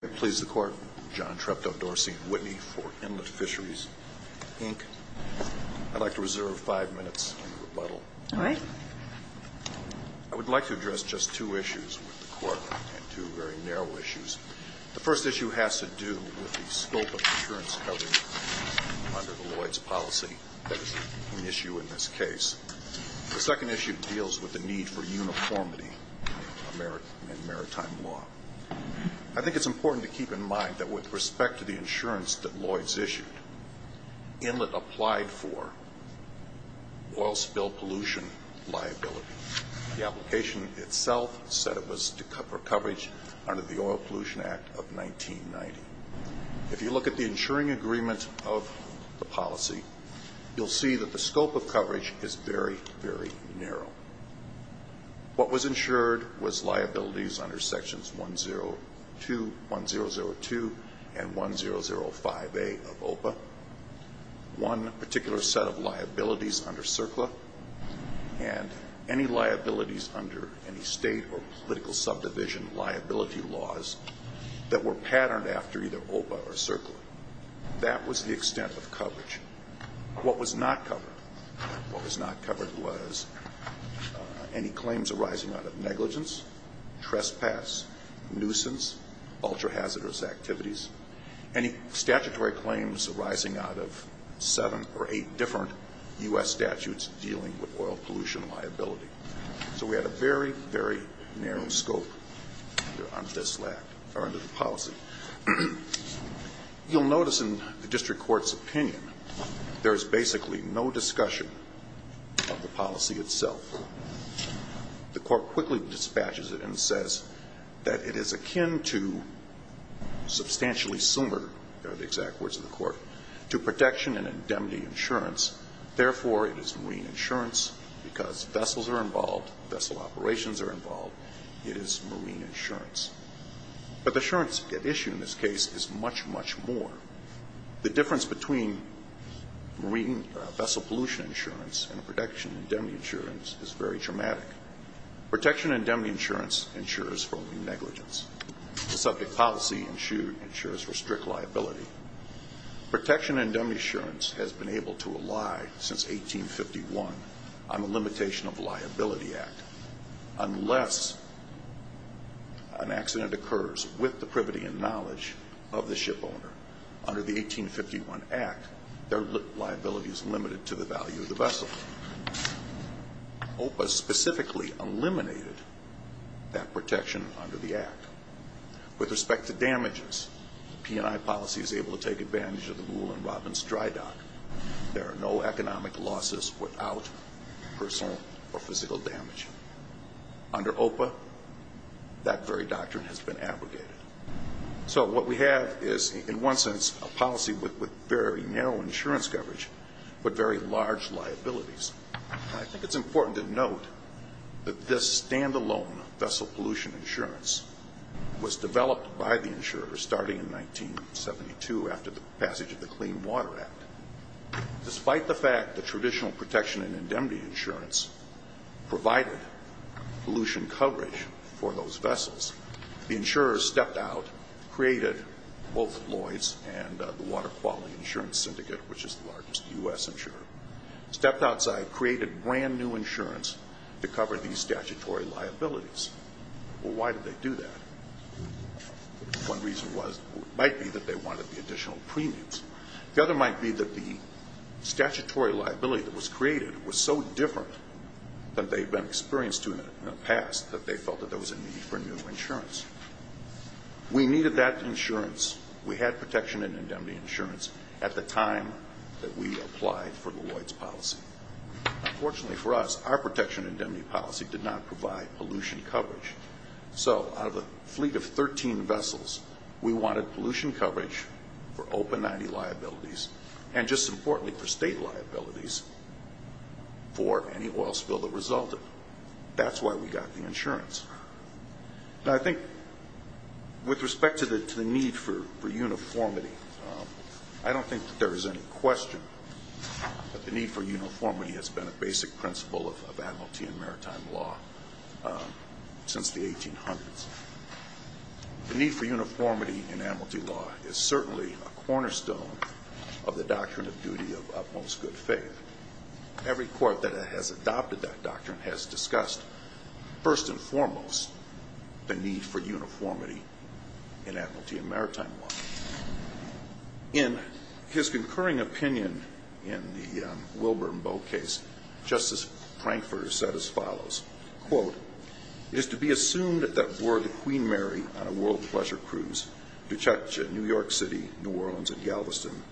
John Treptow Dorsey Whitney for Inlet Fisheries Inc. I'd like to reserve five minutes in rebuttal. All right. I would like to address just two issues with the Court and two very narrow issues. The first issue has to do with the scope of insurance coverage under the Lloyds policy. That is an issue in this case. The second issue deals with the need for uniformity in maritime law. I think it's important to keep in mind that with respect to the insurance that Lloyds issued, Inlet applied for oil spill pollution liability. The application itself said it was for coverage under the Oil Pollution Act of 1990. If you look at the insuring agreement of the policy, you'll see that the scope of coverage is very, very narrow. What was insured was liabilities under Sections 102, 1002, and 1005A of OPA. One particular set of liabilities under CERCLA and any liabilities under any state or political subdivision liability laws that were patterned after either OPA or CERCLA. That was the extent of coverage. What was not covered? What was not covered was any claims arising out of negligence, trespass, nuisance, ultra-hazardous activities, any statutory claims arising out of seven or eight different U.S. statutes dealing with oil pollution liability. So we had a very, very narrow scope under this act or under the policy. You'll notice in the district court's opinion there is basically no discussion of the policy itself. The Court quickly dispatches it and says that it is akin to substantially sumer, are the exact words of the Court, to protection and indemnity insurance. Therefore, it is marine insurance because vessels are involved, vessel operations are involved. It is marine insurance. But the insurance issue in this case is much, much more. The difference between marine vessel pollution insurance and protection and indemnity insurance is very dramatic. Protection and indemnity insurance insures for only negligence. The subject policy insures for strict liability. Protection and indemnity insurance has been able to rely since 1851 on the Limitation of Liability Act. Unless an accident occurs with the privity and knowledge of the shipowner under the 1851 Act, their liability is limited to the value of the vessel. OPA specifically eliminated that protection under the Act. With respect to damages, the P&I policy is able to take advantage of the rule in Robbins Dry Dock. There are no economic losses without personal or physical damage. Under OPA, that very doctrine has been abrogated. So what we have is, in one sense, a policy with very narrow insurance coverage, but very large liabilities. I think it's important to note that this stand-alone vessel pollution insurance was developed by the insurers starting in 1972 after the Clean Water Act. Despite the fact that traditional protection and indemnity insurance provided pollution coverage for those vessels, the insurers stepped out, created both Lloyd's and the Water Quality Insurance Syndicate, which is the largest U.S. insurer, stepped outside, created brand new insurance to cover these statutory liabilities. Well, why did they do that? One reason might be that they wanted the additional premiums. The other might be that the statutory liability that was created was so different than they've been experienced to in the past that they felt that there was a need for new insurance. We needed that insurance. We had protection and indemnity insurance at the time that we applied for Lloyd's policy. Unfortunately for us, our protection and indemnity policy did not provide pollution coverage. So out of a fleet of 13 vessels, we wanted pollution coverage for Open 90 liabilities, and just importantly for state liabilities, for any oil spill that resulted. That's why we got the insurance. Now, I think with respect to the need for uniformity, I don't think that there is any question that the need for uniformity has been a basic principle of Admiralty and Maritime Law since the 1800s. The need for uniformity in Admiralty Law is certainly a cornerstone of the doctrine of duty of utmost good faith. Every court that has adopted that doctrine has discussed, first and foremost, the need for uniformity in Admiralty and Maritime Law. In his concurring opinion in the Wilbur and Bow case, Justice Frankfurter said as follows, quote, It is to be assumed that were the Queen Mary on a world pleasure cruise to New York City, New Orleans and Galveston,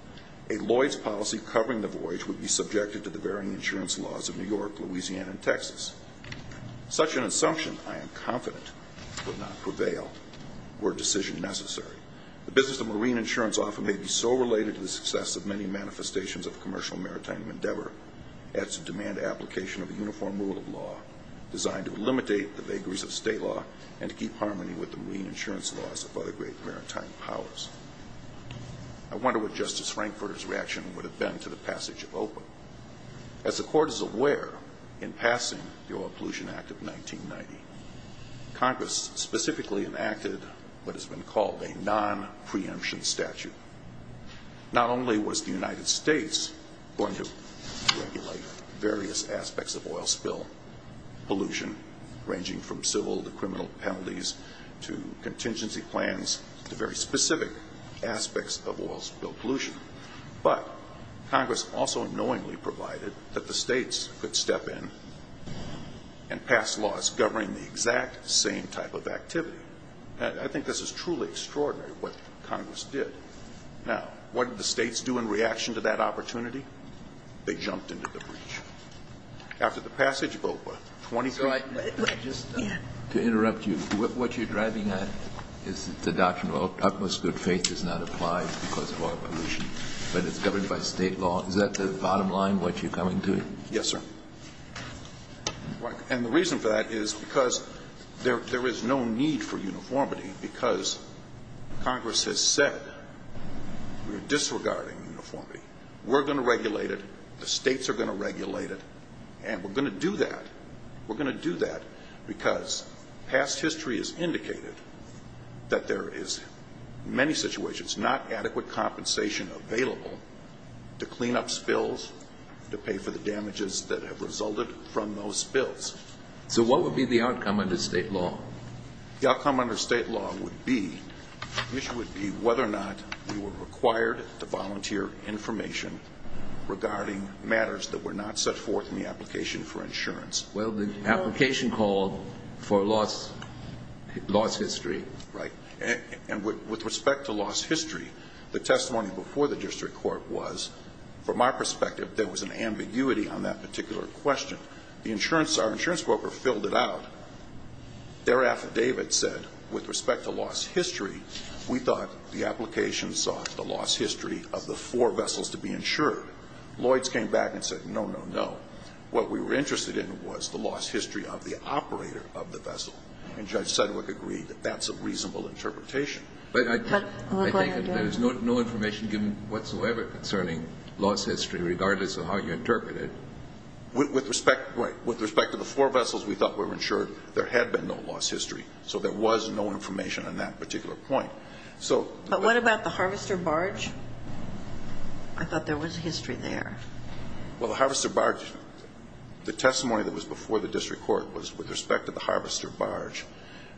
a Lloyd's policy covering the voyage would be subjected to the varying insurance laws of New York, Louisiana and Texas. Such an assumption, I am confident, would not prevail were a decision necessary. The business of marine insurance often may be so related to the success of many manifestations of commercial maritime endeavor as to demand application of a uniform rule of law designed to eliminate the vagaries of state law and to keep harmony with the marine insurance laws of other great maritime powers. I wonder what Justice Frankfurter's reaction would have been to the passage of OPA. As the court is aware, in passing the Oil Pollution Act of 1990, Congress specifically enacted what has been called a non-preemption statute. Not only was the United States going to regulate various aspects of oil spill pollution, ranging from civil to criminal penalties to contingency plans to very specific aspects of oil spill pollution, but Congress also knowingly provided that the states could step in and pass laws governing the exact same type of activity. And I think this is truly extraordinary what Congress did. Now, what did the states do in reaction to that opportunity? They jumped into the breach. After the passage of OPA, 20- JUSTICE KENNEDY Mr. Wright, just to interrupt you, what you're driving at is that the doctrine of utmost good faith does not apply because of oil pollution, but it's governed by state law. Is that the bottom line, what you're coming to? MR. WRIGHT Yes, sir. And the reason for that is because there is no need for uniformity because Congress has said we're disregarding uniformity. We're going to regulate it. The states are going to regulate it. And we're going to do that. We're going to do that because past history has indicated that there is, in many situations, not adequate compensation available to clean up spills, to pay for the damages that have resulted from those spills. JUSTICE KENNEDY So what would be the outcome under state law? MR. WRIGHT The outcome under state law would be whether or not we were required to volunteer information regarding matters that were not set forth in the application for insurance. JUSTICE KENNEDY Well, the application called for lost history. MR. WRIGHT Right. And with respect to lost history, the testimony before the district court was, from our perspective, there was an ambiguity on that particular question. The insurance, our insurance broker filled it out. Their affidavit said, with respect to lost history, we thought the application sought the lost history of the four vessels to be insured. Lloyds came back and said, no, no, no. What we were interested in was the lost history of the operator of the vessel. And Judge Sedgwick agreed that that's a reasonable interpretation. JUSTICE KENNEDY But I think there is no information given whatsoever concerning lost history, regardless of how you interpret it. MR. WRIGHT With respect to the four vessels we thought were insured, there had been no lost history. So there was no information on that particular point. JUSTICE KENNEDY But what about the harvester barge? I thought there was history there. MR. WRIGHT Well, the harvester barge, the testimony that was before the district court was, with respect to the harvester barge,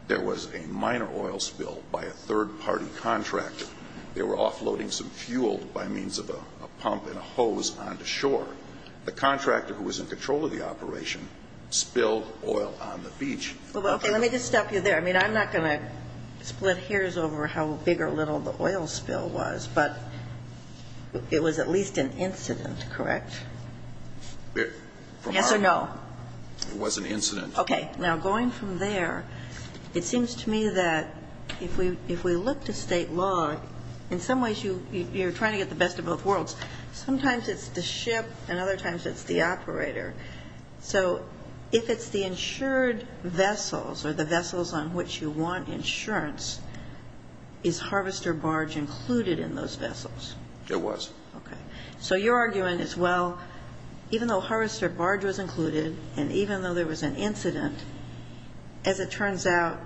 there was a minor oil spill by a third-party contractor. They were offloading some fuel by means of a pump and a hose onto shore. The contractor who was in control of the operation spilled oil on the beach. JUSTICE KENNEDY Well, okay. Let me just stop you there. I mean, I'm not going to split hairs over how big or little the oil spill was, but it was at least an incident, correct? MR. WRIGHT Yes or no? It was an incident. JUSTICE KENNEDY Okay. Now, going from there, it seems to me that if we look to State law, in some ways you're trying to get the best of both worlds. Sometimes it's the ship, and other times it's the operator. So if it's the insured vessels or the vessels on which you want insurance, is harvester barge included in those vessels? MR. WRIGHT JUSTICE KENNEDY Okay. So your argument is, well, even though harvester barge was included and even though there was an incident, as it turns out,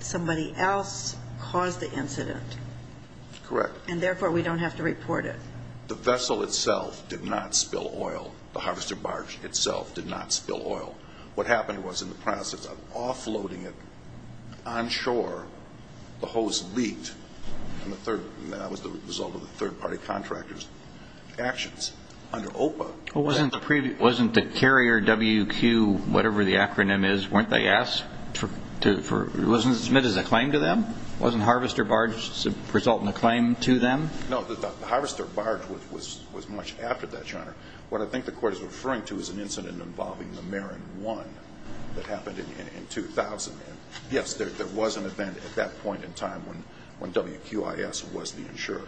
somebody else caused the incident. MR. WRIGHT Correct. JUSTICE KENNEDY And therefore, we don't have to report it. MR. WRIGHT The vessel itself did not spill oil. The harvester barge itself did not spill oil. What happened was, in the process of offloading it onshore, the hose leaked, and that was the result of the third-party contractor's actions. Under OPA, that's the... JUSTICE KENNEDY Wasn't the carrier WQ, whatever the acronym is, weren't they asked to, wasn't it submitted as a claim to them? Wasn't harvester barge resulting in a claim to them? MR. WRIGHT No, the harvester barge was much after that, Your Honor. What I think the Court is referring to is an incident involving the Marin One that happened in 2000. Yes, there was an event at that point in time when WQIS was the insurer.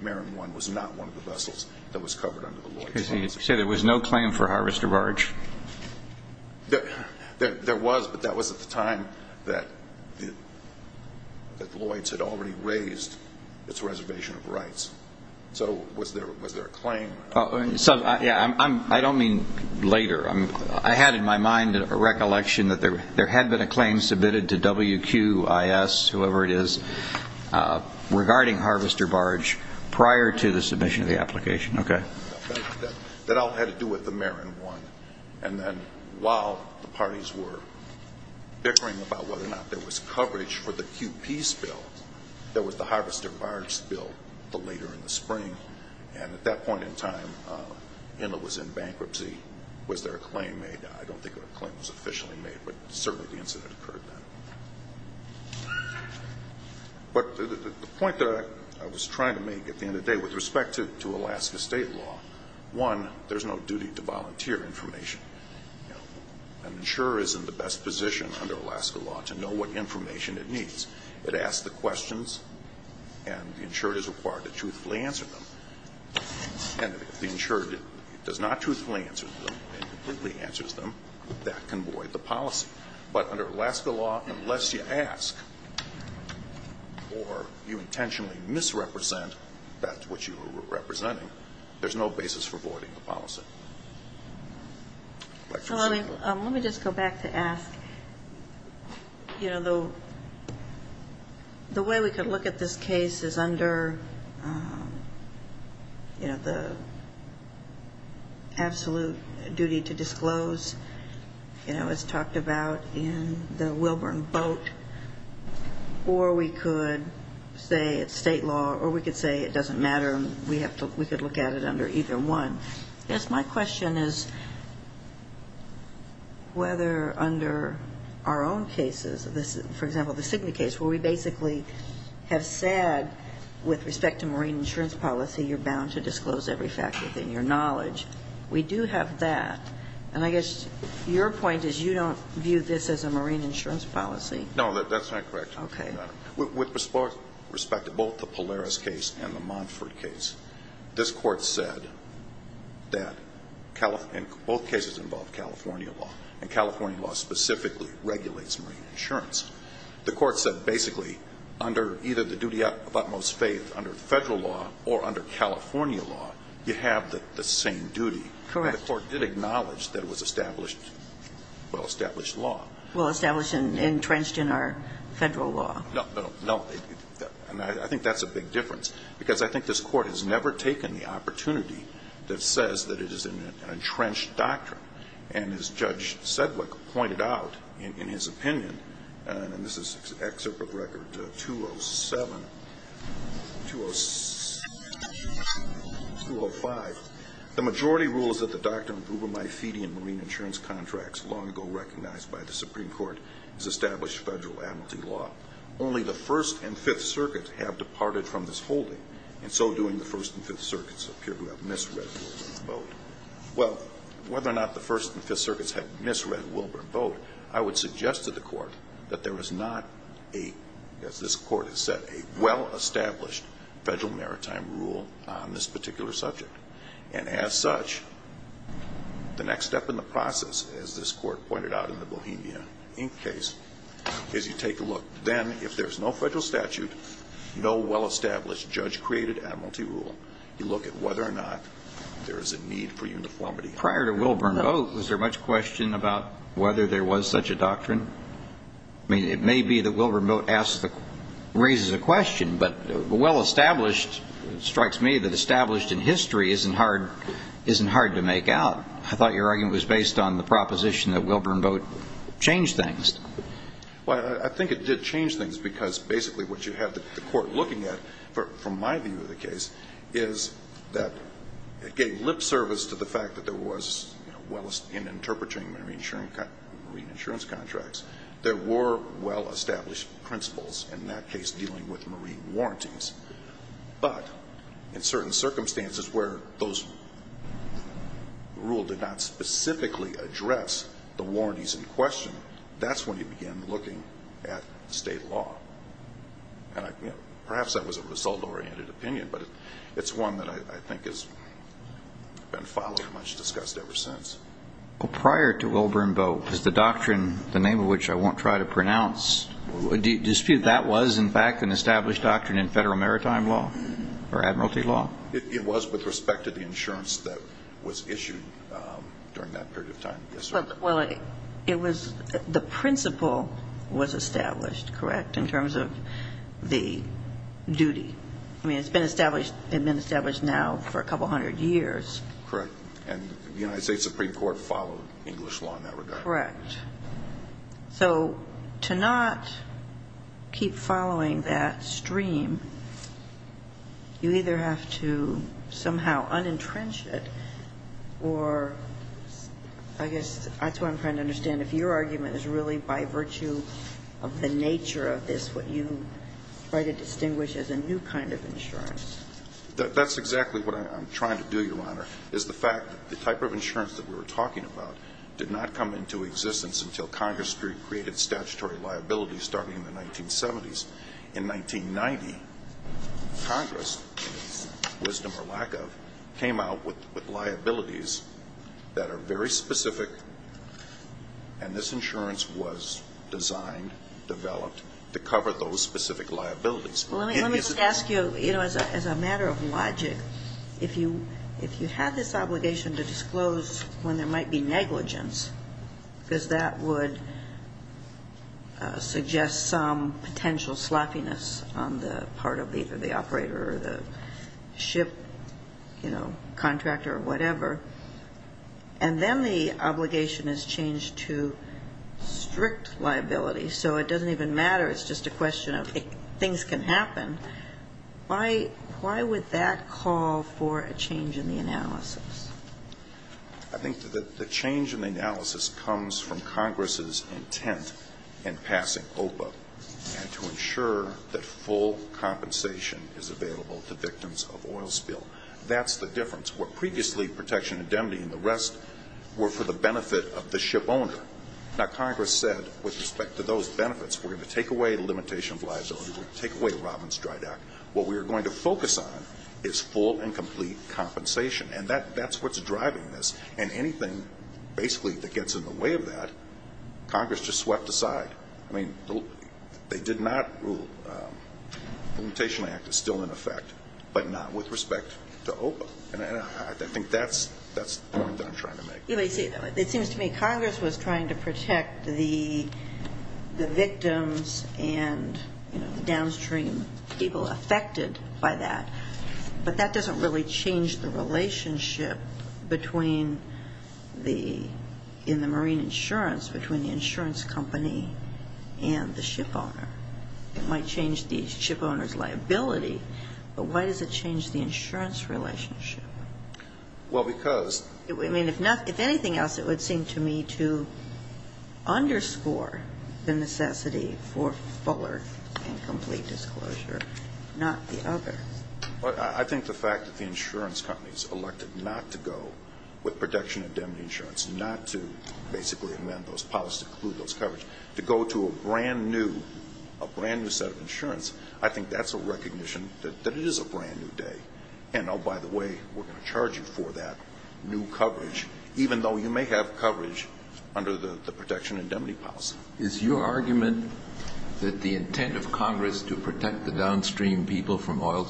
Marin One was not one of the vessels that was covered under the Lloyds policy. JUSTICE KENNEDY So you say there was no claim for harvester barge? MR. WRIGHT There was, but that was at the time that Lloyds had already raised its reservation of rights. So was there a claim? JUSTICE KENNEDY I don't mean later. I had in my mind a recollection that there had been a claim submitted to WQIS, whoever it is, regarding harvester barge prior to the submission of the application. Okay. MR. WRIGHT That all had to do with the Marin One. And then while the parties were bickering about whether or not there was coverage for the QP's bill, there was the harvester barge bill the later in the spring. And at that point in time, ENA was in bankruptcy. Was there a claim made? I don't think a claim was officially made, but certainly the incident occurred then. But the point that I was trying to make at the end of the day with respect to Alaska state law, one, there's no duty to volunteer information. An insurer is in the best position under Alaska law to know what information it needs. It asks the questions, and the insurer is required to truthfully answer them. And if the insurer does not truthfully answer them and completely answers them, that can void the policy. But under Alaska law, unless you ask or you intentionally misrepresent that which you were representing, there's no basis for voiding the policy. Let me just go back to ask, you know, the way we could look at this case is under, you know, the absolute duty to disclose, you know, as talked about in the Wilburn boat, or we could say it's state law, or we could say it doesn't matter and we could look at it under either one. Yes, my question is whether under our own cases, for example, the Signet case where we basically have said with respect to marine insurance policy you're bound to disclose every fact within your knowledge, we do have that. And I guess your point is you don't view this as a marine insurance policy. No, that's not correct, Your Honor. Okay. With respect to both the Polaris case and the Montford case, this Court said that both cases involve California law, and California law specifically regulates marine insurance. The Court said basically under either the duty of utmost faith under Federal law or under California law, you have the same duty. Correct. The Court did acknowledge that it was established, well-established law. Well-established and entrenched in our Federal law. No, no. And I think that's a big difference, because I think this Court has never taken the opportunity that says that it is an entrenched doctrine. And as Judge Sedgwick pointed out in his opinion, and this is an excerpt of Record 207, 207, 205, the majority rule is that the doctrine of ubermaephidian marine insurance contracts, long ago recognized by the Supreme Court, is established Federal amnesty law. Only the First and Fifth Circuits have departed from this holding, and so doing, the First and Fifth Circuits appear to have misread Wilburn boat. Well, whether or not the First and Fifth Circuits had misread Wilburn boat, I would suggest to the Court that there is not a, as this Court has said, a well-established Federal maritime rule on this particular subject. And as such, the next step in the process, as this Court pointed out in the Bohemia Inc. case, is you take a look. Then, if there's no Federal statute, no well-established judge-created admiralty rule, you look at whether or not there is a need for uniformity. Prior to Wilburn boat, was there much question about whether there was such a doctrine? I mean, it may be that Wilburn boat raises a question, but well-established strikes me that established in history isn't hard to make out. I thought your argument was based on the proposition that Wilburn boat changed things. Well, I think it did change things because basically what you have the Court looking at, from my view of the case, is that it gave lip service to the fact that there was, you know, well, in interpreting marine insurance contracts, there were well-established principles in that case dealing with marine warranties. But in certain circumstances where those rule did not specifically address the warranties in question, that's when you begin looking at state law. And, you know, perhaps that was a result-oriented opinion, but it's one that I think has been followed and much discussed ever since. Well, prior to Wilburn boat, was the doctrine, the name of which I won't try to pronounce, do you dispute that was, in fact, an established doctrine in Federal maritime law or admiralty law? It was with respect to the insurance that was issued during that period of time. Well, it was the principle was established, correct, in terms of the duty. I mean, it's been established now for a couple hundred years. Correct. And the United States Supreme Court followed English law in that regard. Correct. So to not keep following that stream, you either have to somehow un-entrench it or, I guess, that's what I'm trying to understand, if your argument is really by virtue of the nature of this what you try to distinguish as a new kind of insurance. That's exactly what I'm trying to do, Your Honor, is the fact that the type of insurance that we were talking about did not come into existence until Congress created statutory liabilities starting in the 1970s. In 1990, Congress, wisdom or lack of, came out with liabilities that are very specific, and this insurance was designed, developed to cover those specific liabilities. Well, let me just ask you, you know, as a matter of logic, if you had this obligation to disclose when there might be negligence, because that would suggest some potential sloppiness on the part of either the operator or the ship, you know, contractor or whatever, and then the obligation is changed to strict liability so it doesn't even matter, it's just a question of things can happen, why would that call for a change in the analysis? I think that the change in the analysis comes from Congress's intent in passing OPA and to ensure that full compensation is available to victims of oil spill. That's the difference. Where previously protection indemnity and the rest were for the benefit of the ship owner, now Congress said with respect to those benefits, we're going to take away full and complete compensation, and that's what's driving this, and anything basically that gets in the way of that, Congress just swept aside. I mean, they did not rule, the Limitation Act is still in effect, but not with respect to OPA, and I think that's the point that I'm trying to make. It seems to me Congress was trying to protect the victims and the downstream people affected by that, but that doesn't really change the relationship between the, in the marine insurance, between the insurance company and the ship owner. It might change the ship owner's liability, but why does it change the insurance relationship? Well, because. I mean, if anything else, it would seem to me to underscore the necessity for fuller and complete disclosure, not the other. Well, I think the fact that the insurance companies elected not to go with protection indemnity insurance, not to basically amend those policies to include those coverage, to go to a brand new, a brand new set of insurance, I think that's a recognition that it is a brand new day, and oh, by the way, we're going to charge you for that new coverage, even though you may have coverage under the protection indemnity policy. Is your argument that the intent of Congress to protect the downstream people from oil,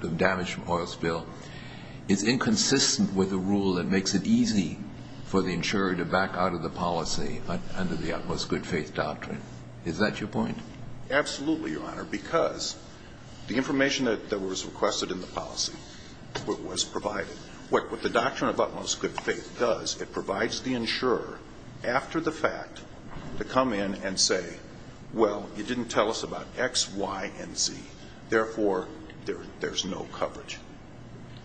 the damage from oil spill is inconsistent with the rule that makes it easy for the insurer to back out of the policy under the utmost good faith doctrine? Is that your point? Absolutely, Your Honor, because the information that was requested in the policy was provided. What the doctrine of utmost good faith does, it provides the insurer, after the fact, to come in and say, well, you didn't tell us about X, Y, and Z. Therefore, there's no coverage.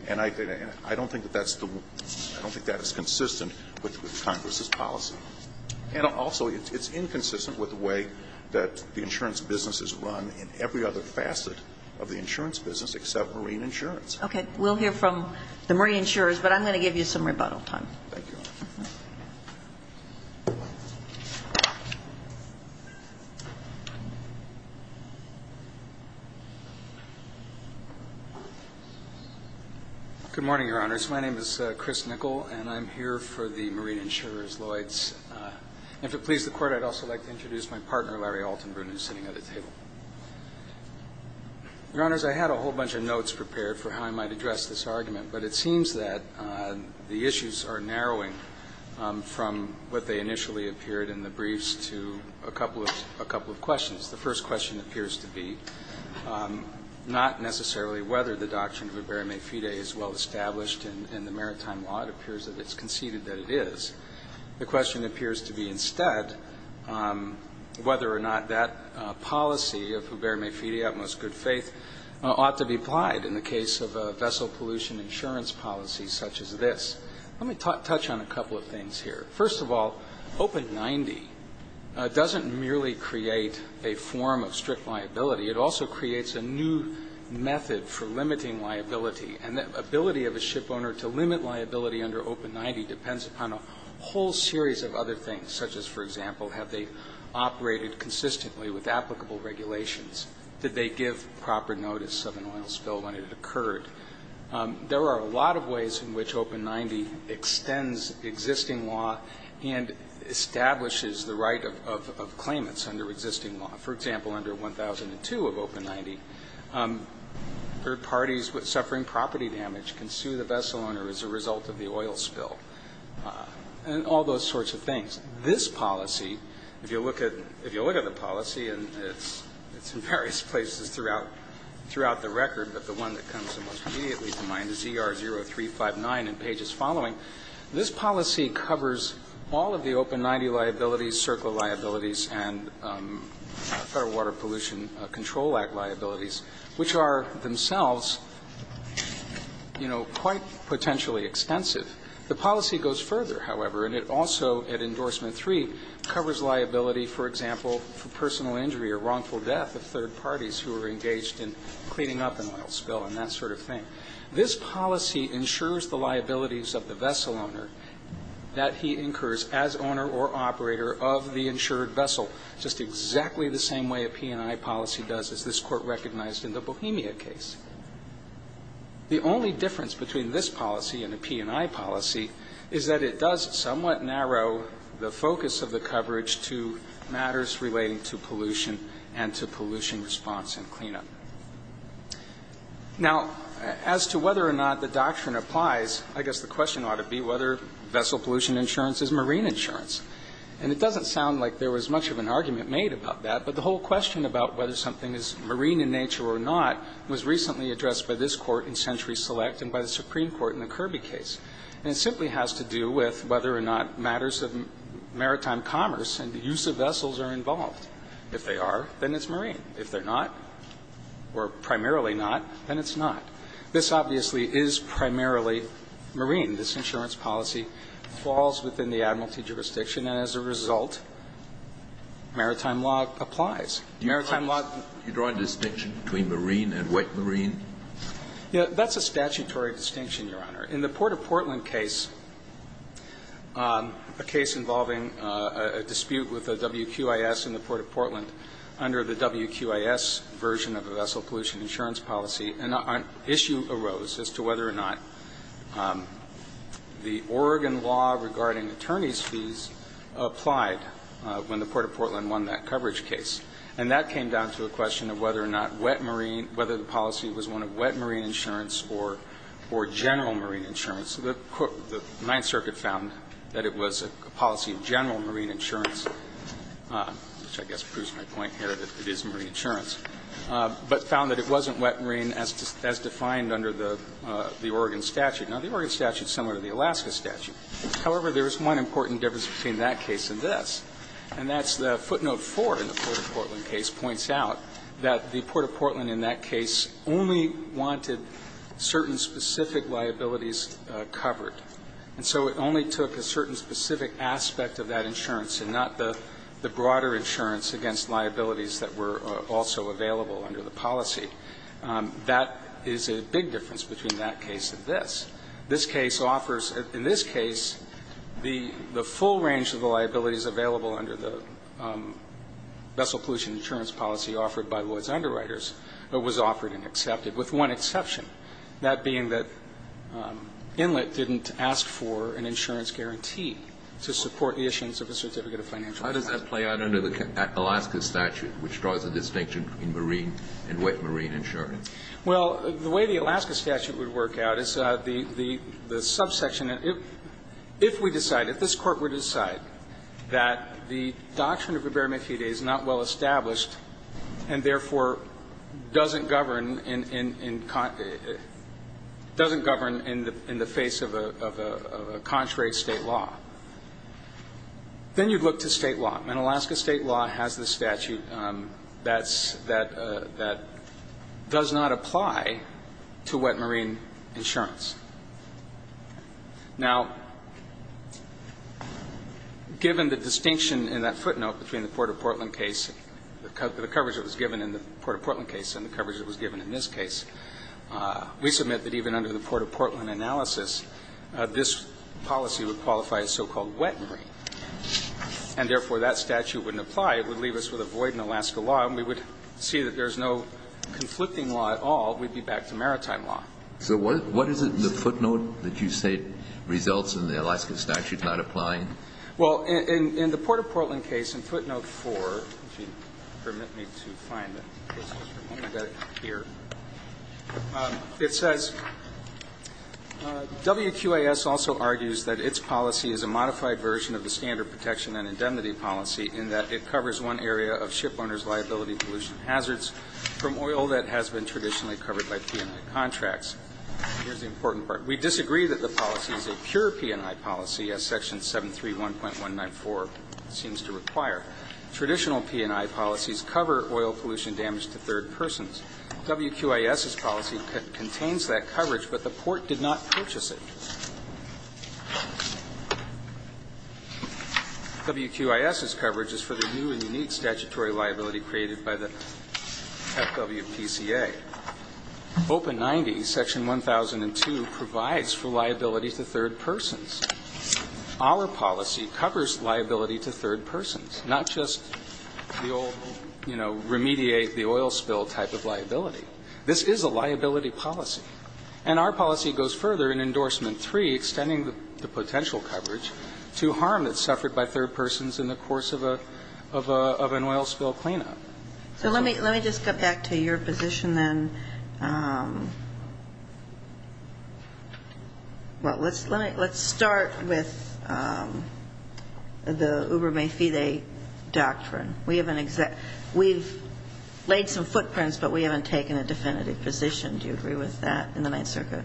And I don't think that that's the one. I don't think that is consistent with Congress's policy. And also, it's inconsistent with the way that the insurance business is run in every other facet of the insurance business except marine insurance. Okay. We'll hear from the marine insurers, but I'm going to give you some rebuttal Thank you, Your Honor. Good morning, Your Honors. My name is Chris Nickel, and I'm here for the marine insurers, Lloyd's. And if it pleases the Court, I'd also like to introduce my partner, Larry Altenbrun, who's sitting at the table. Your Honors, I had a whole bunch of notes prepared for how I might address this argument, but it seems that the issues are narrowing from what they initially appeared in the briefs to a couple of questions. The first question appears to be not necessarily whether the doctrine of ibera mefida is well established in the maritime law. It appears that it's conceded that it is. The question appears to be instead whether or not that policy of ibera mefida, utmost good faith, ought to be applied in the case of a vessel pollution insurance policy such as this. Let me touch on a couple of things here. First of all, Open 90 doesn't merely create a form of strict liability. It also creates a new method for limiting liability. And the ability of a shipowner to limit liability under Open 90 depends upon a whole series of other things, such as, for example, have they operated consistently with applicable regulations? Did they give proper notice of an oil spill when it occurred? There are a lot of ways in which Open 90 extends existing law and establishes the right of claimants under existing law. For example, under 1002 of Open 90, third parties with suffering property damage can sue the vessel owner as a result of the oil spill and all those sorts of things. This policy, if you look at the policy, and it's in various places throughout the record, but the one that comes to mind is ER 0359 in pages following. This policy covers all of the Open 90 liabilities, circle liabilities, and Federal Water Pollution Control Act liabilities, which are themselves, you know, quite potentially extensive. The policy goes further, however, and it also, at Endorsement 3, covers liability, for example, for personal injury or wrongful death of third parties who are engaged in cleaning up an oil spill and that sort of thing. This policy ensures the liabilities of the vessel owner that he incurs as owner or operator of the insured vessel, just exactly the same way a P&I policy does, as this Court recognized in the Bohemia case. The only difference between this policy and a P&I policy is that it does somewhat narrow the focus of the coverage to matters relating to pollution and to pollution response and cleanup. Now, as to whether or not the doctrine applies, I guess the question ought to be whether vessel pollution insurance is marine insurance. And it doesn't sound like there was much of an argument made about that, but the whole question about whether something is marine in nature or not was recently addressed by this Court in Century Select and by the Supreme Court in the Kirby case. And it simply has to do with whether or not matters of maritime commerce and the use of vessels are involved. If they are, then it's marine. If they're not, or primarily not, then it's not. This obviously is primarily marine. This insurance policy falls within the admiralty jurisdiction, and as a result, maritime law applies. Maritime law doesn't apply. Kennedy. Do you draw a distinction between marine and wet marine? Yeah. That's a statutory distinction, Your Honor. In the Port of Portland case, a case involving a dispute with the WQIS in the Port of Portland under the WQIS version of the vessel pollution insurance policy, an issue arose as to whether or not the Oregon law regarding attorney's fees applied when the Port of Portland won that coverage case. And that came down to a question of whether or not wet marine, whether the policy was one of wet marine insurance or general marine insurance. The Ninth Circuit found that it was a policy of general marine insurance, which I guess proves my point here that it is marine insurance, but found that it wasn't wet marine as defined under the Oregon statute. Now, the Oregon statute is similar to the Alaska statute. However, there is one important difference between that case and this, and that's the footnote 4 in the Port of Portland case points out that the Port of Portland in that case only wanted certain specific liabilities covered. And so it only took a certain specific aspect of that insurance and not the broader insurance against liabilities that were also available under the policy. That is a big difference between that case and this. This case offers, in this case, the full range of the liabilities available under the vessel pollution insurance policy offered by Lloyd's Underwriters was offered and accepted, with one exception, that being that Inlet didn't ask for an insurance guarantee to support the issuance of a certificate of financial Now, if you look at Alaska's statute, which draws a distinction between marine and wet marine insurance. Well, the way the Alaska statute would work out is the subsection. If we decide, if this Court were to decide that the doctrine of verbatim equity is not well established and, therefore, doesn't govern in the face of a contrary state law, then you'd look to state law. And Alaska state law has the statute that does not apply to wet marine insurance. Now, given the distinction in that footnote between the Port of Portland case, the coverage that was given in the Port of Portland case and the coverage that was given in this case, we submit that even under the Port of Portland analysis, this policy would qualify as so-called wet marine. And, therefore, that statute wouldn't apply. It would leave us with a void in Alaska law, and we would see that there's no conflicting law at all. We'd be back to maritime law. So what is it in the footnote that you say results in the Alaska statute not applying? Well, in the Port of Portland case, in footnote 4, if you permit me to find it. I've got it here. It says, WQAS also argues that its policy is a modified version of the standard protection and indemnity policy in that it covers one area of shipowner's liability pollution hazards from oil that has been traditionally covered by P&I contracts. Here's the important part. We disagree that the policy is a pure P&I policy, as Section 731.194 seems to require. Traditional P&I policies cover oil pollution damage to third persons. WQAS's policy contains that coverage, but the Port did not purchase it. WQAS's coverage is for the new and unique statutory liability created by the FWPCA. Open 90, Section 1002, provides for liability to third persons. Our policy covers liability to third persons, not just the old, you know, remediate-the-oil-spill type of liability. This is a liability policy. And our policy goes further in Endorsement 3, extending the potential coverage to harm that's suffered by third persons in the course of an oil spill cleanup. So let me just get back to your position then. Well, let's start with the Uber-May-Fide doctrine. We've laid some footprints, but we haven't taken a definitive position. Do you agree with that in the Ninth Circuit?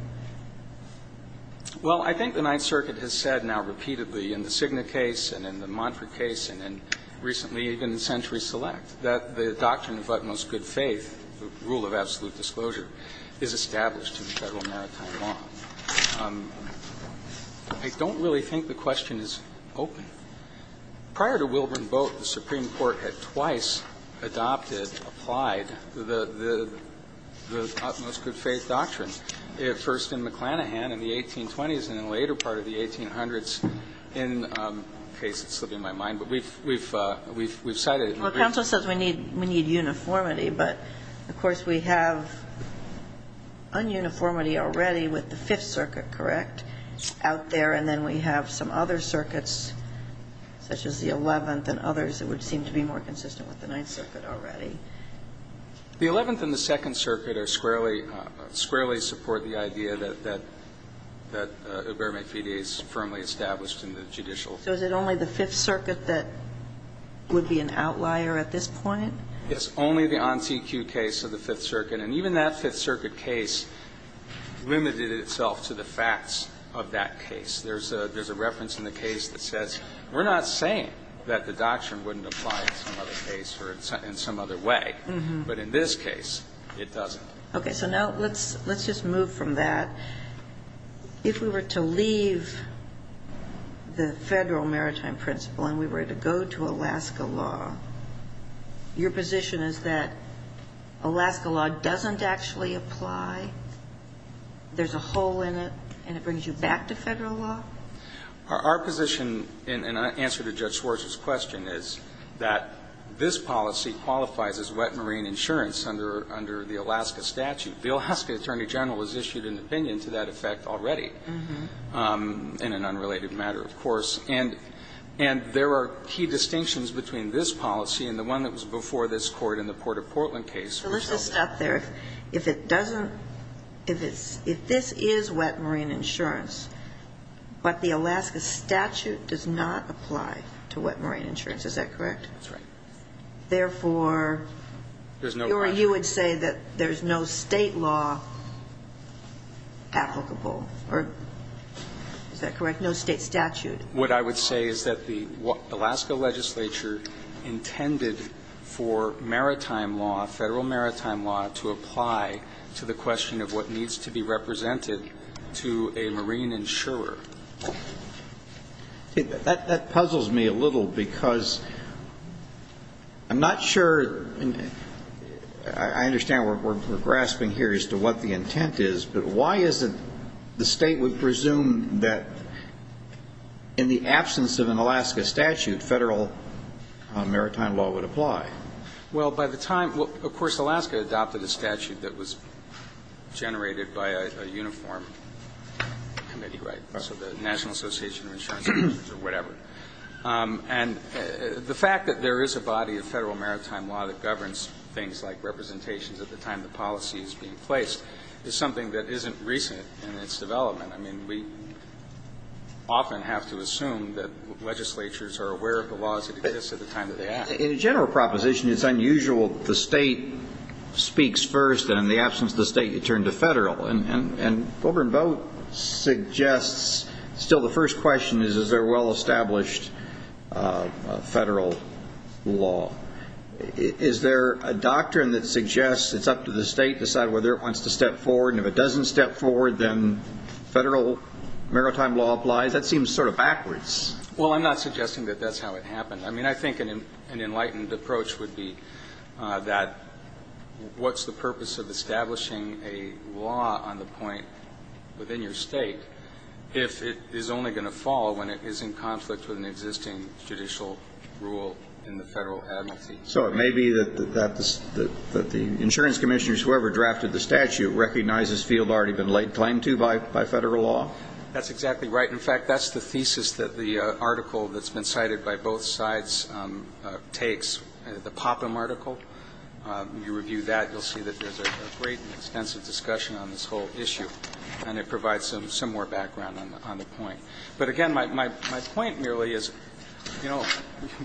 Well, I think the Ninth Circuit has said now repeatedly in the Cigna case and in the Montford case and in recently even the Century Select that the doctrine of utmost good faith, the rule of absolute disclosure, is established in Federal maritime law. I don't really think the question is open. Prior to Wilburn Boat, the Supreme Court had twice adopted, applied the utmost good faith doctrine, first in McClanahan in the 1820s and in the later part of the 1800s in a case that's slipping my mind. But we've cited it. Well, counsel says we need uniformity. But, of course, we have un-uniformity already with the Fifth Circuit, correct, out there. And then we have some other circuits such as the Eleventh and others that would seem to be more consistent with the Ninth Circuit already. The Eleventh and the Second Circuit are squarely, squarely support the idea that Uber-May-Fide is firmly established in the judicial. So is it only the Fifth Circuit that would be an outlier at this point? Yes, only the on-CQ case of the Fifth Circuit. And even that Fifth Circuit case limited itself to the facts of that case. There's a reference in the case that says we're not saying that the doctrine wouldn't apply in some other case or in some other way. But in this case, it doesn't. Okay. So now let's just move from that. If we were to leave the Federal maritime principle and we were to go to Alaska law, your position is that Alaska law doesn't actually apply, there's a hole in it, and it brings you back to Federal law? Our position, in answer to Judge Schwartz's question, is that this policy qualifies as wet marine insurance under the Alaska statute. The Alaska Attorney General has issued an opinion to that effect already, in an unrelated matter, of course. And there are key distinctions between this policy and the one that was before this Court in the Port of Portland case. So let's just stop there. If it doesn't, if it's, if this is wet marine insurance, but the Alaska statute does not apply to wet marine insurance, is that correct? That's right. Therefore, you would say that there's no State law applicable, or is that correct, no State statute? What I would say is that the Alaska legislature intended for maritime law, Federal maritime law, to apply to the question of what needs to be represented to a marine insurer. That puzzles me a little, because I'm not sure, I understand we're grasping here as to what the intent is, but why is it the State would presume that in the absence of an Alaska statute, Federal maritime law would apply? Well, by the time, well, of course, Alaska adopted a statute that was generated by a uniform committee, right? So the National Association of Insurance Insurers or whatever. And the fact that there is a body of Federal maritime law that governs things like is something that isn't recent in its development. I mean, we often have to assume that legislatures are aware of the laws that exist at the time that they act. In a general proposition, it's unusual that the State speaks first, and in the absence of the State, you turn to Federal. And Gober and Boat suggests, still the first question is, is there a well-established Federal law? Is there a doctrine that suggests it's up to the State to decide whether it wants to step forward, and if it doesn't step forward, then Federal maritime law applies? That seems sort of backwards. Well, I'm not suggesting that that's how it happened. I mean, I think an enlightened approach would be that what's the purpose of establishing a law on the point within your State if it is only going to fall when it is in conflict with an existing judicial rule in the Federal advocacy? So it may be that the insurance commissioners, whoever drafted the statute, recognize this field had already been claimed to by Federal law? That's exactly right. In fact, that's the thesis that the article that's been cited by both sides takes, the Popham article. You review that, you'll see that there's a great and extensive discussion on this whole issue, and it provides some more background on the point. But, again, my point merely is, you know,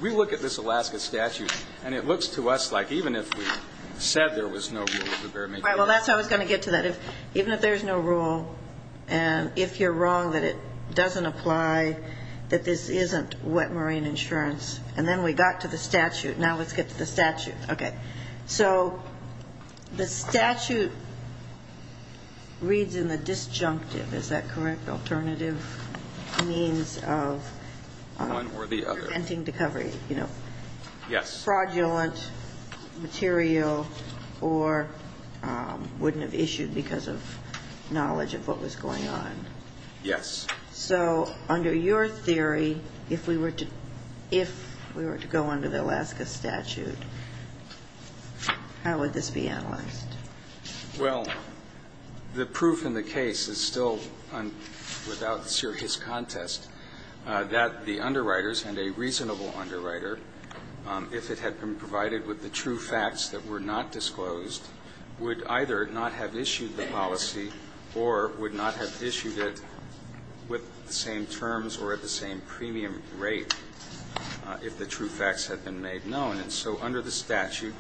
we look at this Alaska statute, and it looks to us like even if we said there was no rule, there may be. All right. Well, that's how I was going to get to that. Even if there's no rule, and if you're wrong that it doesn't apply, that this isn't wet marine insurance, and then we got to the statute. Now let's get to the statute. Okay. So the statute reads in the disjunctive. Is that correct? Alternative means of preventing recovery. Yes. Fraudulent material or wouldn't have issued because of knowledge of what was going on. Yes. So under your theory, if we were to go under the Alaska statute, how would this be analyzed? Well, the proof in the case is still without serious contest that the underwriters and a reasonable underwriter, if it had been provided with the true facts that were not disclosed, would either not have issued the policy or would not have issued it with the same terms or at the same premium rate if the true facts had been made known. And so under the statute,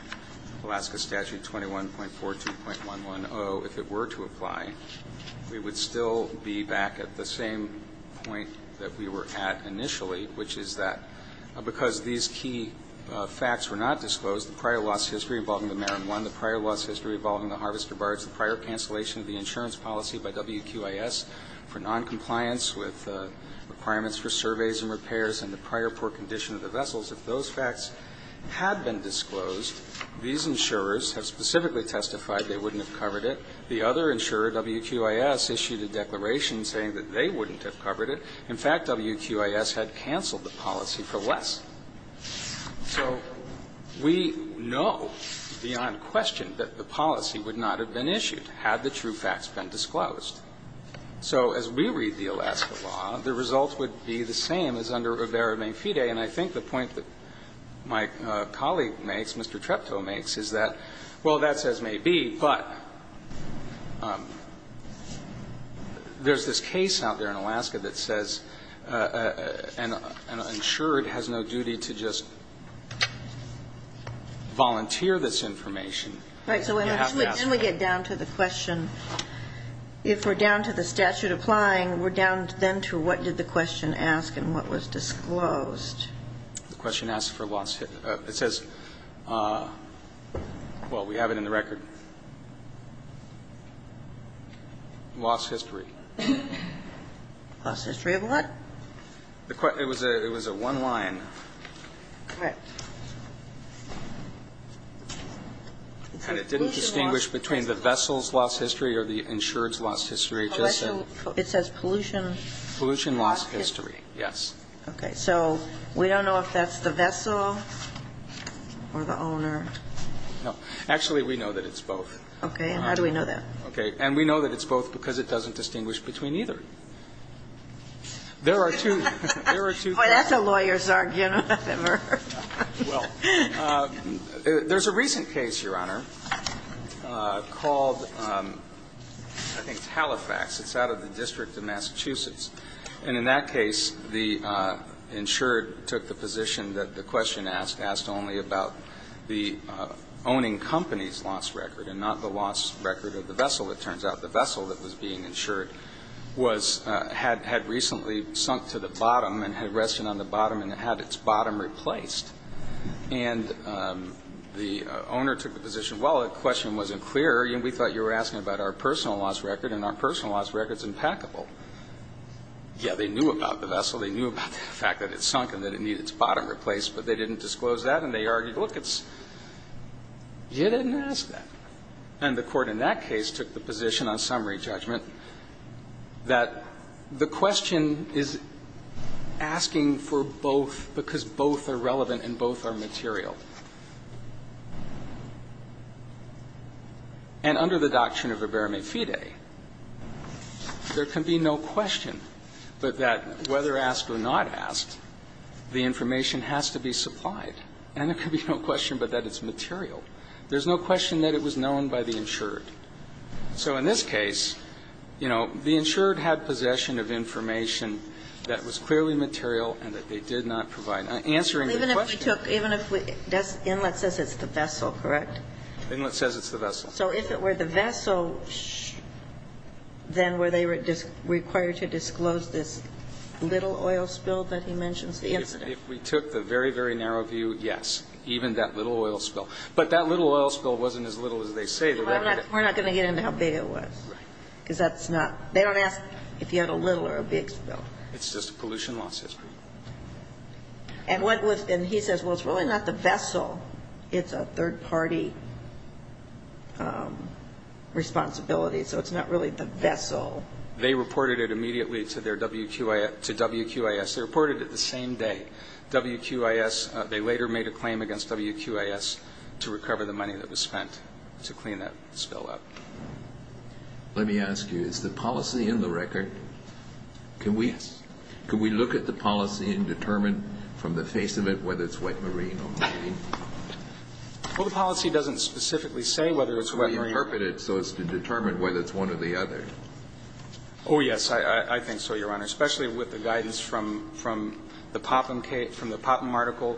Alaska statute 21.42.110, if it were to apply, we would still be back at the same point that we were at initially, which is that because these key facts were not disclosed, the prior loss history involving the Marron One, the prior loss history involving the Harvester Barge, the prior cancellation of the insurance policy by WQIS for noncompliance with requirements for surveys and repairs and the prior port condition of the vessels, if those facts had been disclosed, these insurers have specifically testified they wouldn't have covered it. The other insurer, WQIS, issued a declaration saying that they wouldn't have covered it. In fact, WQIS had canceled the policy for less. So we know beyond question that the policy would not have been issued had the true facts been disclosed. So as we read the Alaska law, the results would be the same as under Rivera-Mangfide. And I think the point that my colleague makes, Mr. Treptow makes, is that, well, that's as may be, but there's this case out there in Alaska that says an insured has no duty to just volunteer this information. You have to ask for it. And then we get down to the question. If we're down to the statute applying, we're down then to what did the question ask and what was disclosed. The question asked for loss. It says, well, we have it in the record. Loss history. Loss history of what? It was a one line. Correct. And it didn't distinguish between the vessel's loss history or the insured's loss history. Pollution. It says pollution. Pollution loss history, yes. Okay. So we don't know if that's the vessel or the owner. No. Actually, we know that it's both. Okay. And how do we know that? Okay. And we know that it's both because it doesn't distinguish between either. There are two. There are two. Boy, that's a lawyer's argument. Well, there's a recent case, Your Honor, called, I think it's Halifax. It's out of the District of Massachusetts. And in that case, the insured took the position that the question asked, asked only about the owning company's loss record and not the loss record of the vessel. It turns out the vessel that was being insured was had recently sunk to the bottom and had rested on the bottom and had its bottom replaced. And the owner took the position, well, the question wasn't clear. We thought you were asking about our personal loss record, and our personal loss record is impeccable. Yeah, they knew about the vessel. They knew about the fact that it sunk and that it needed its bottom replaced, but they didn't disclose that, and they argued, look, you didn't ask that. And the court in that case took the position on summary judgment that the question is asking for both because both are relevant and both are material. And under the doctrine of iberme fide, there can be no question but that whether asked or not asked, the information has to be supplied. And there can be no question but that it's material. There's no question that it was known by the insured. So in this case, you know, the insured had possession of information that was clearly material and that they did not provide. Answering the question. Even if we took, even if we, Inlet says it's the vessel, correct? Inlet says it's the vessel. So if it were the vessel, then were they required to disclose this little oil spill that he mentions? If we took the very, very narrow view, yes, even that little oil spill. But that little oil spill wasn't as little as they say. We're not going to get into how big it was. Right. Because that's not, they don't ask if you had a little or a big spill. It's just a pollution loss history. And what was, and he says, well, it's really not the vessel. It's a third-party responsibility. So it's not really the vessel. They reported it immediately to their WQIS. They reported it the same day. WQIS, they later made a claim against WQIS to recover the money that was spent to clean that spill up. Let me ask you, is the policy in the record? Yes. Can we look at the policy and determine from the face of it whether it's wet marine or marine? Well, the policy doesn't specifically say whether it's wet marine. We interpret it so as to determine whether it's one or the other. Oh, yes. I think so, Your Honor, especially with the guidance from the Popham case, from the Portland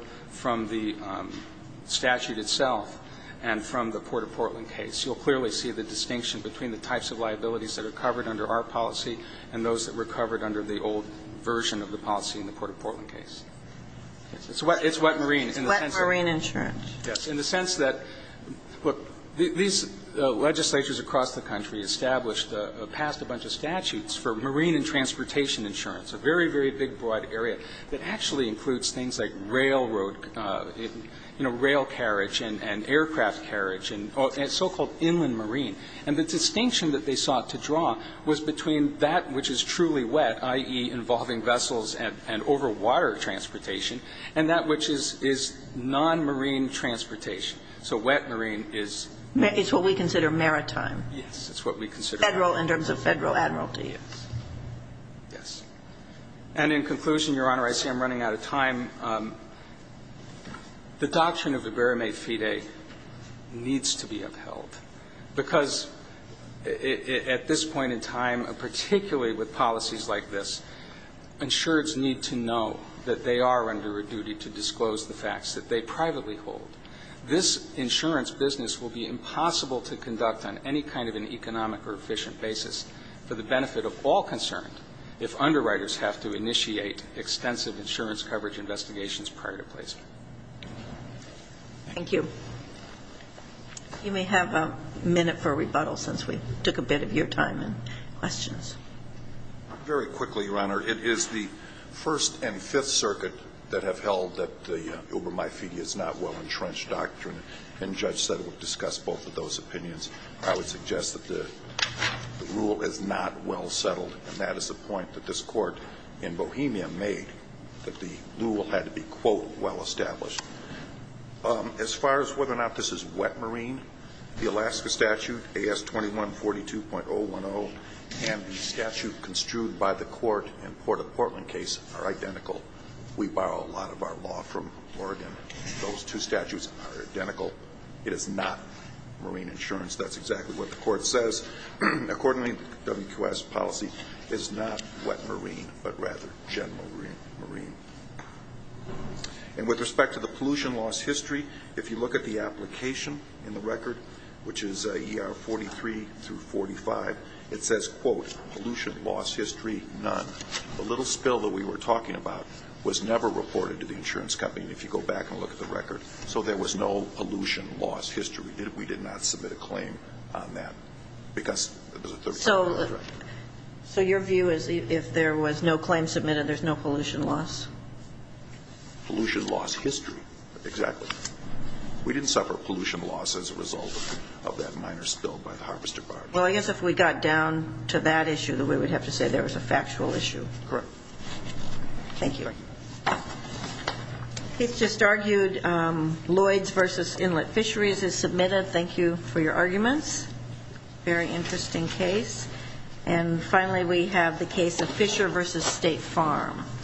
case. You'll clearly see the distinction between the types of liabilities that are covered under our policy and those that were covered under the old version of the policy in the Port of Portland case. It's wet marine. It's wet marine insurance. Yes. In the sense that, look, these legislatures across the country established a past bunch of statutes for marine and transportation insurance, a very, very big broad area that actually includes things like railroad, you know, rail carriage and aircraft carriage and so-called inland marine. And the distinction that they sought to draw was between that which is truly wet, i.e., involving vessels and over water transportation, and that which is non-marine transportation. So wet marine is not. It's what we consider maritime. Yes. It's what we consider maritime. Federal in terms of federal admiralty. Yes. And in conclusion, Your Honor, I see I'm running out of time. The doctrine of iberimate fide needs to be upheld, because at this point in time, particularly with policies like this, insurers need to know that they are under a duty to disclose the facts that they privately hold. This insurance business will be impossible to conduct on any kind of an economic or efficient basis for the benefit of all concerned if underwriters have to initiate extensive insurance coverage investigations prior to placement. Thank you. You may have a minute for rebuttal, since we took a bit of your time and questions. Very quickly, Your Honor. It is the First and Fifth Circuit that have held that the iberimate fide is not well entrenched doctrine, and Judge Settle discussed both of those opinions. I would suggest that the rule is not well settled, and that is the point that this Bohemia made, that the rule had to be, quote, well established. As far as whether or not this is wet marine, the Alaska statute, AS 2142.010, and the statute construed by the court in the Portland case are identical. We borrow a lot of our law from Oregon. Those two statutes are identical. It is not marine insurance. That's exactly what the court says. Accordingly, WQS policy is not wet marine, but rather general marine. And with respect to the pollution loss history, if you look at the application in the record, which is ER 43 through 45, it says, quote, pollution loss history none. The little spill that we were talking about was never reported to the insurance company, and if you go back and look at the record, so there was no pollution loss history. We did not submit a claim on that. So your view is if there was no claim submitted, there's no pollution loss? Pollution loss history, exactly. We didn't suffer pollution loss as a result of that minor spill by the harvester barge. Well, I guess if we got down to that issue, then we would have to say there was a factual issue. Correct. Thank you. Keith just argued Lloyds v. Inlet Fisheries is submitted. Thank you for your arguments. Very interesting case. And finally, we have the case of Fisher v. State Farm.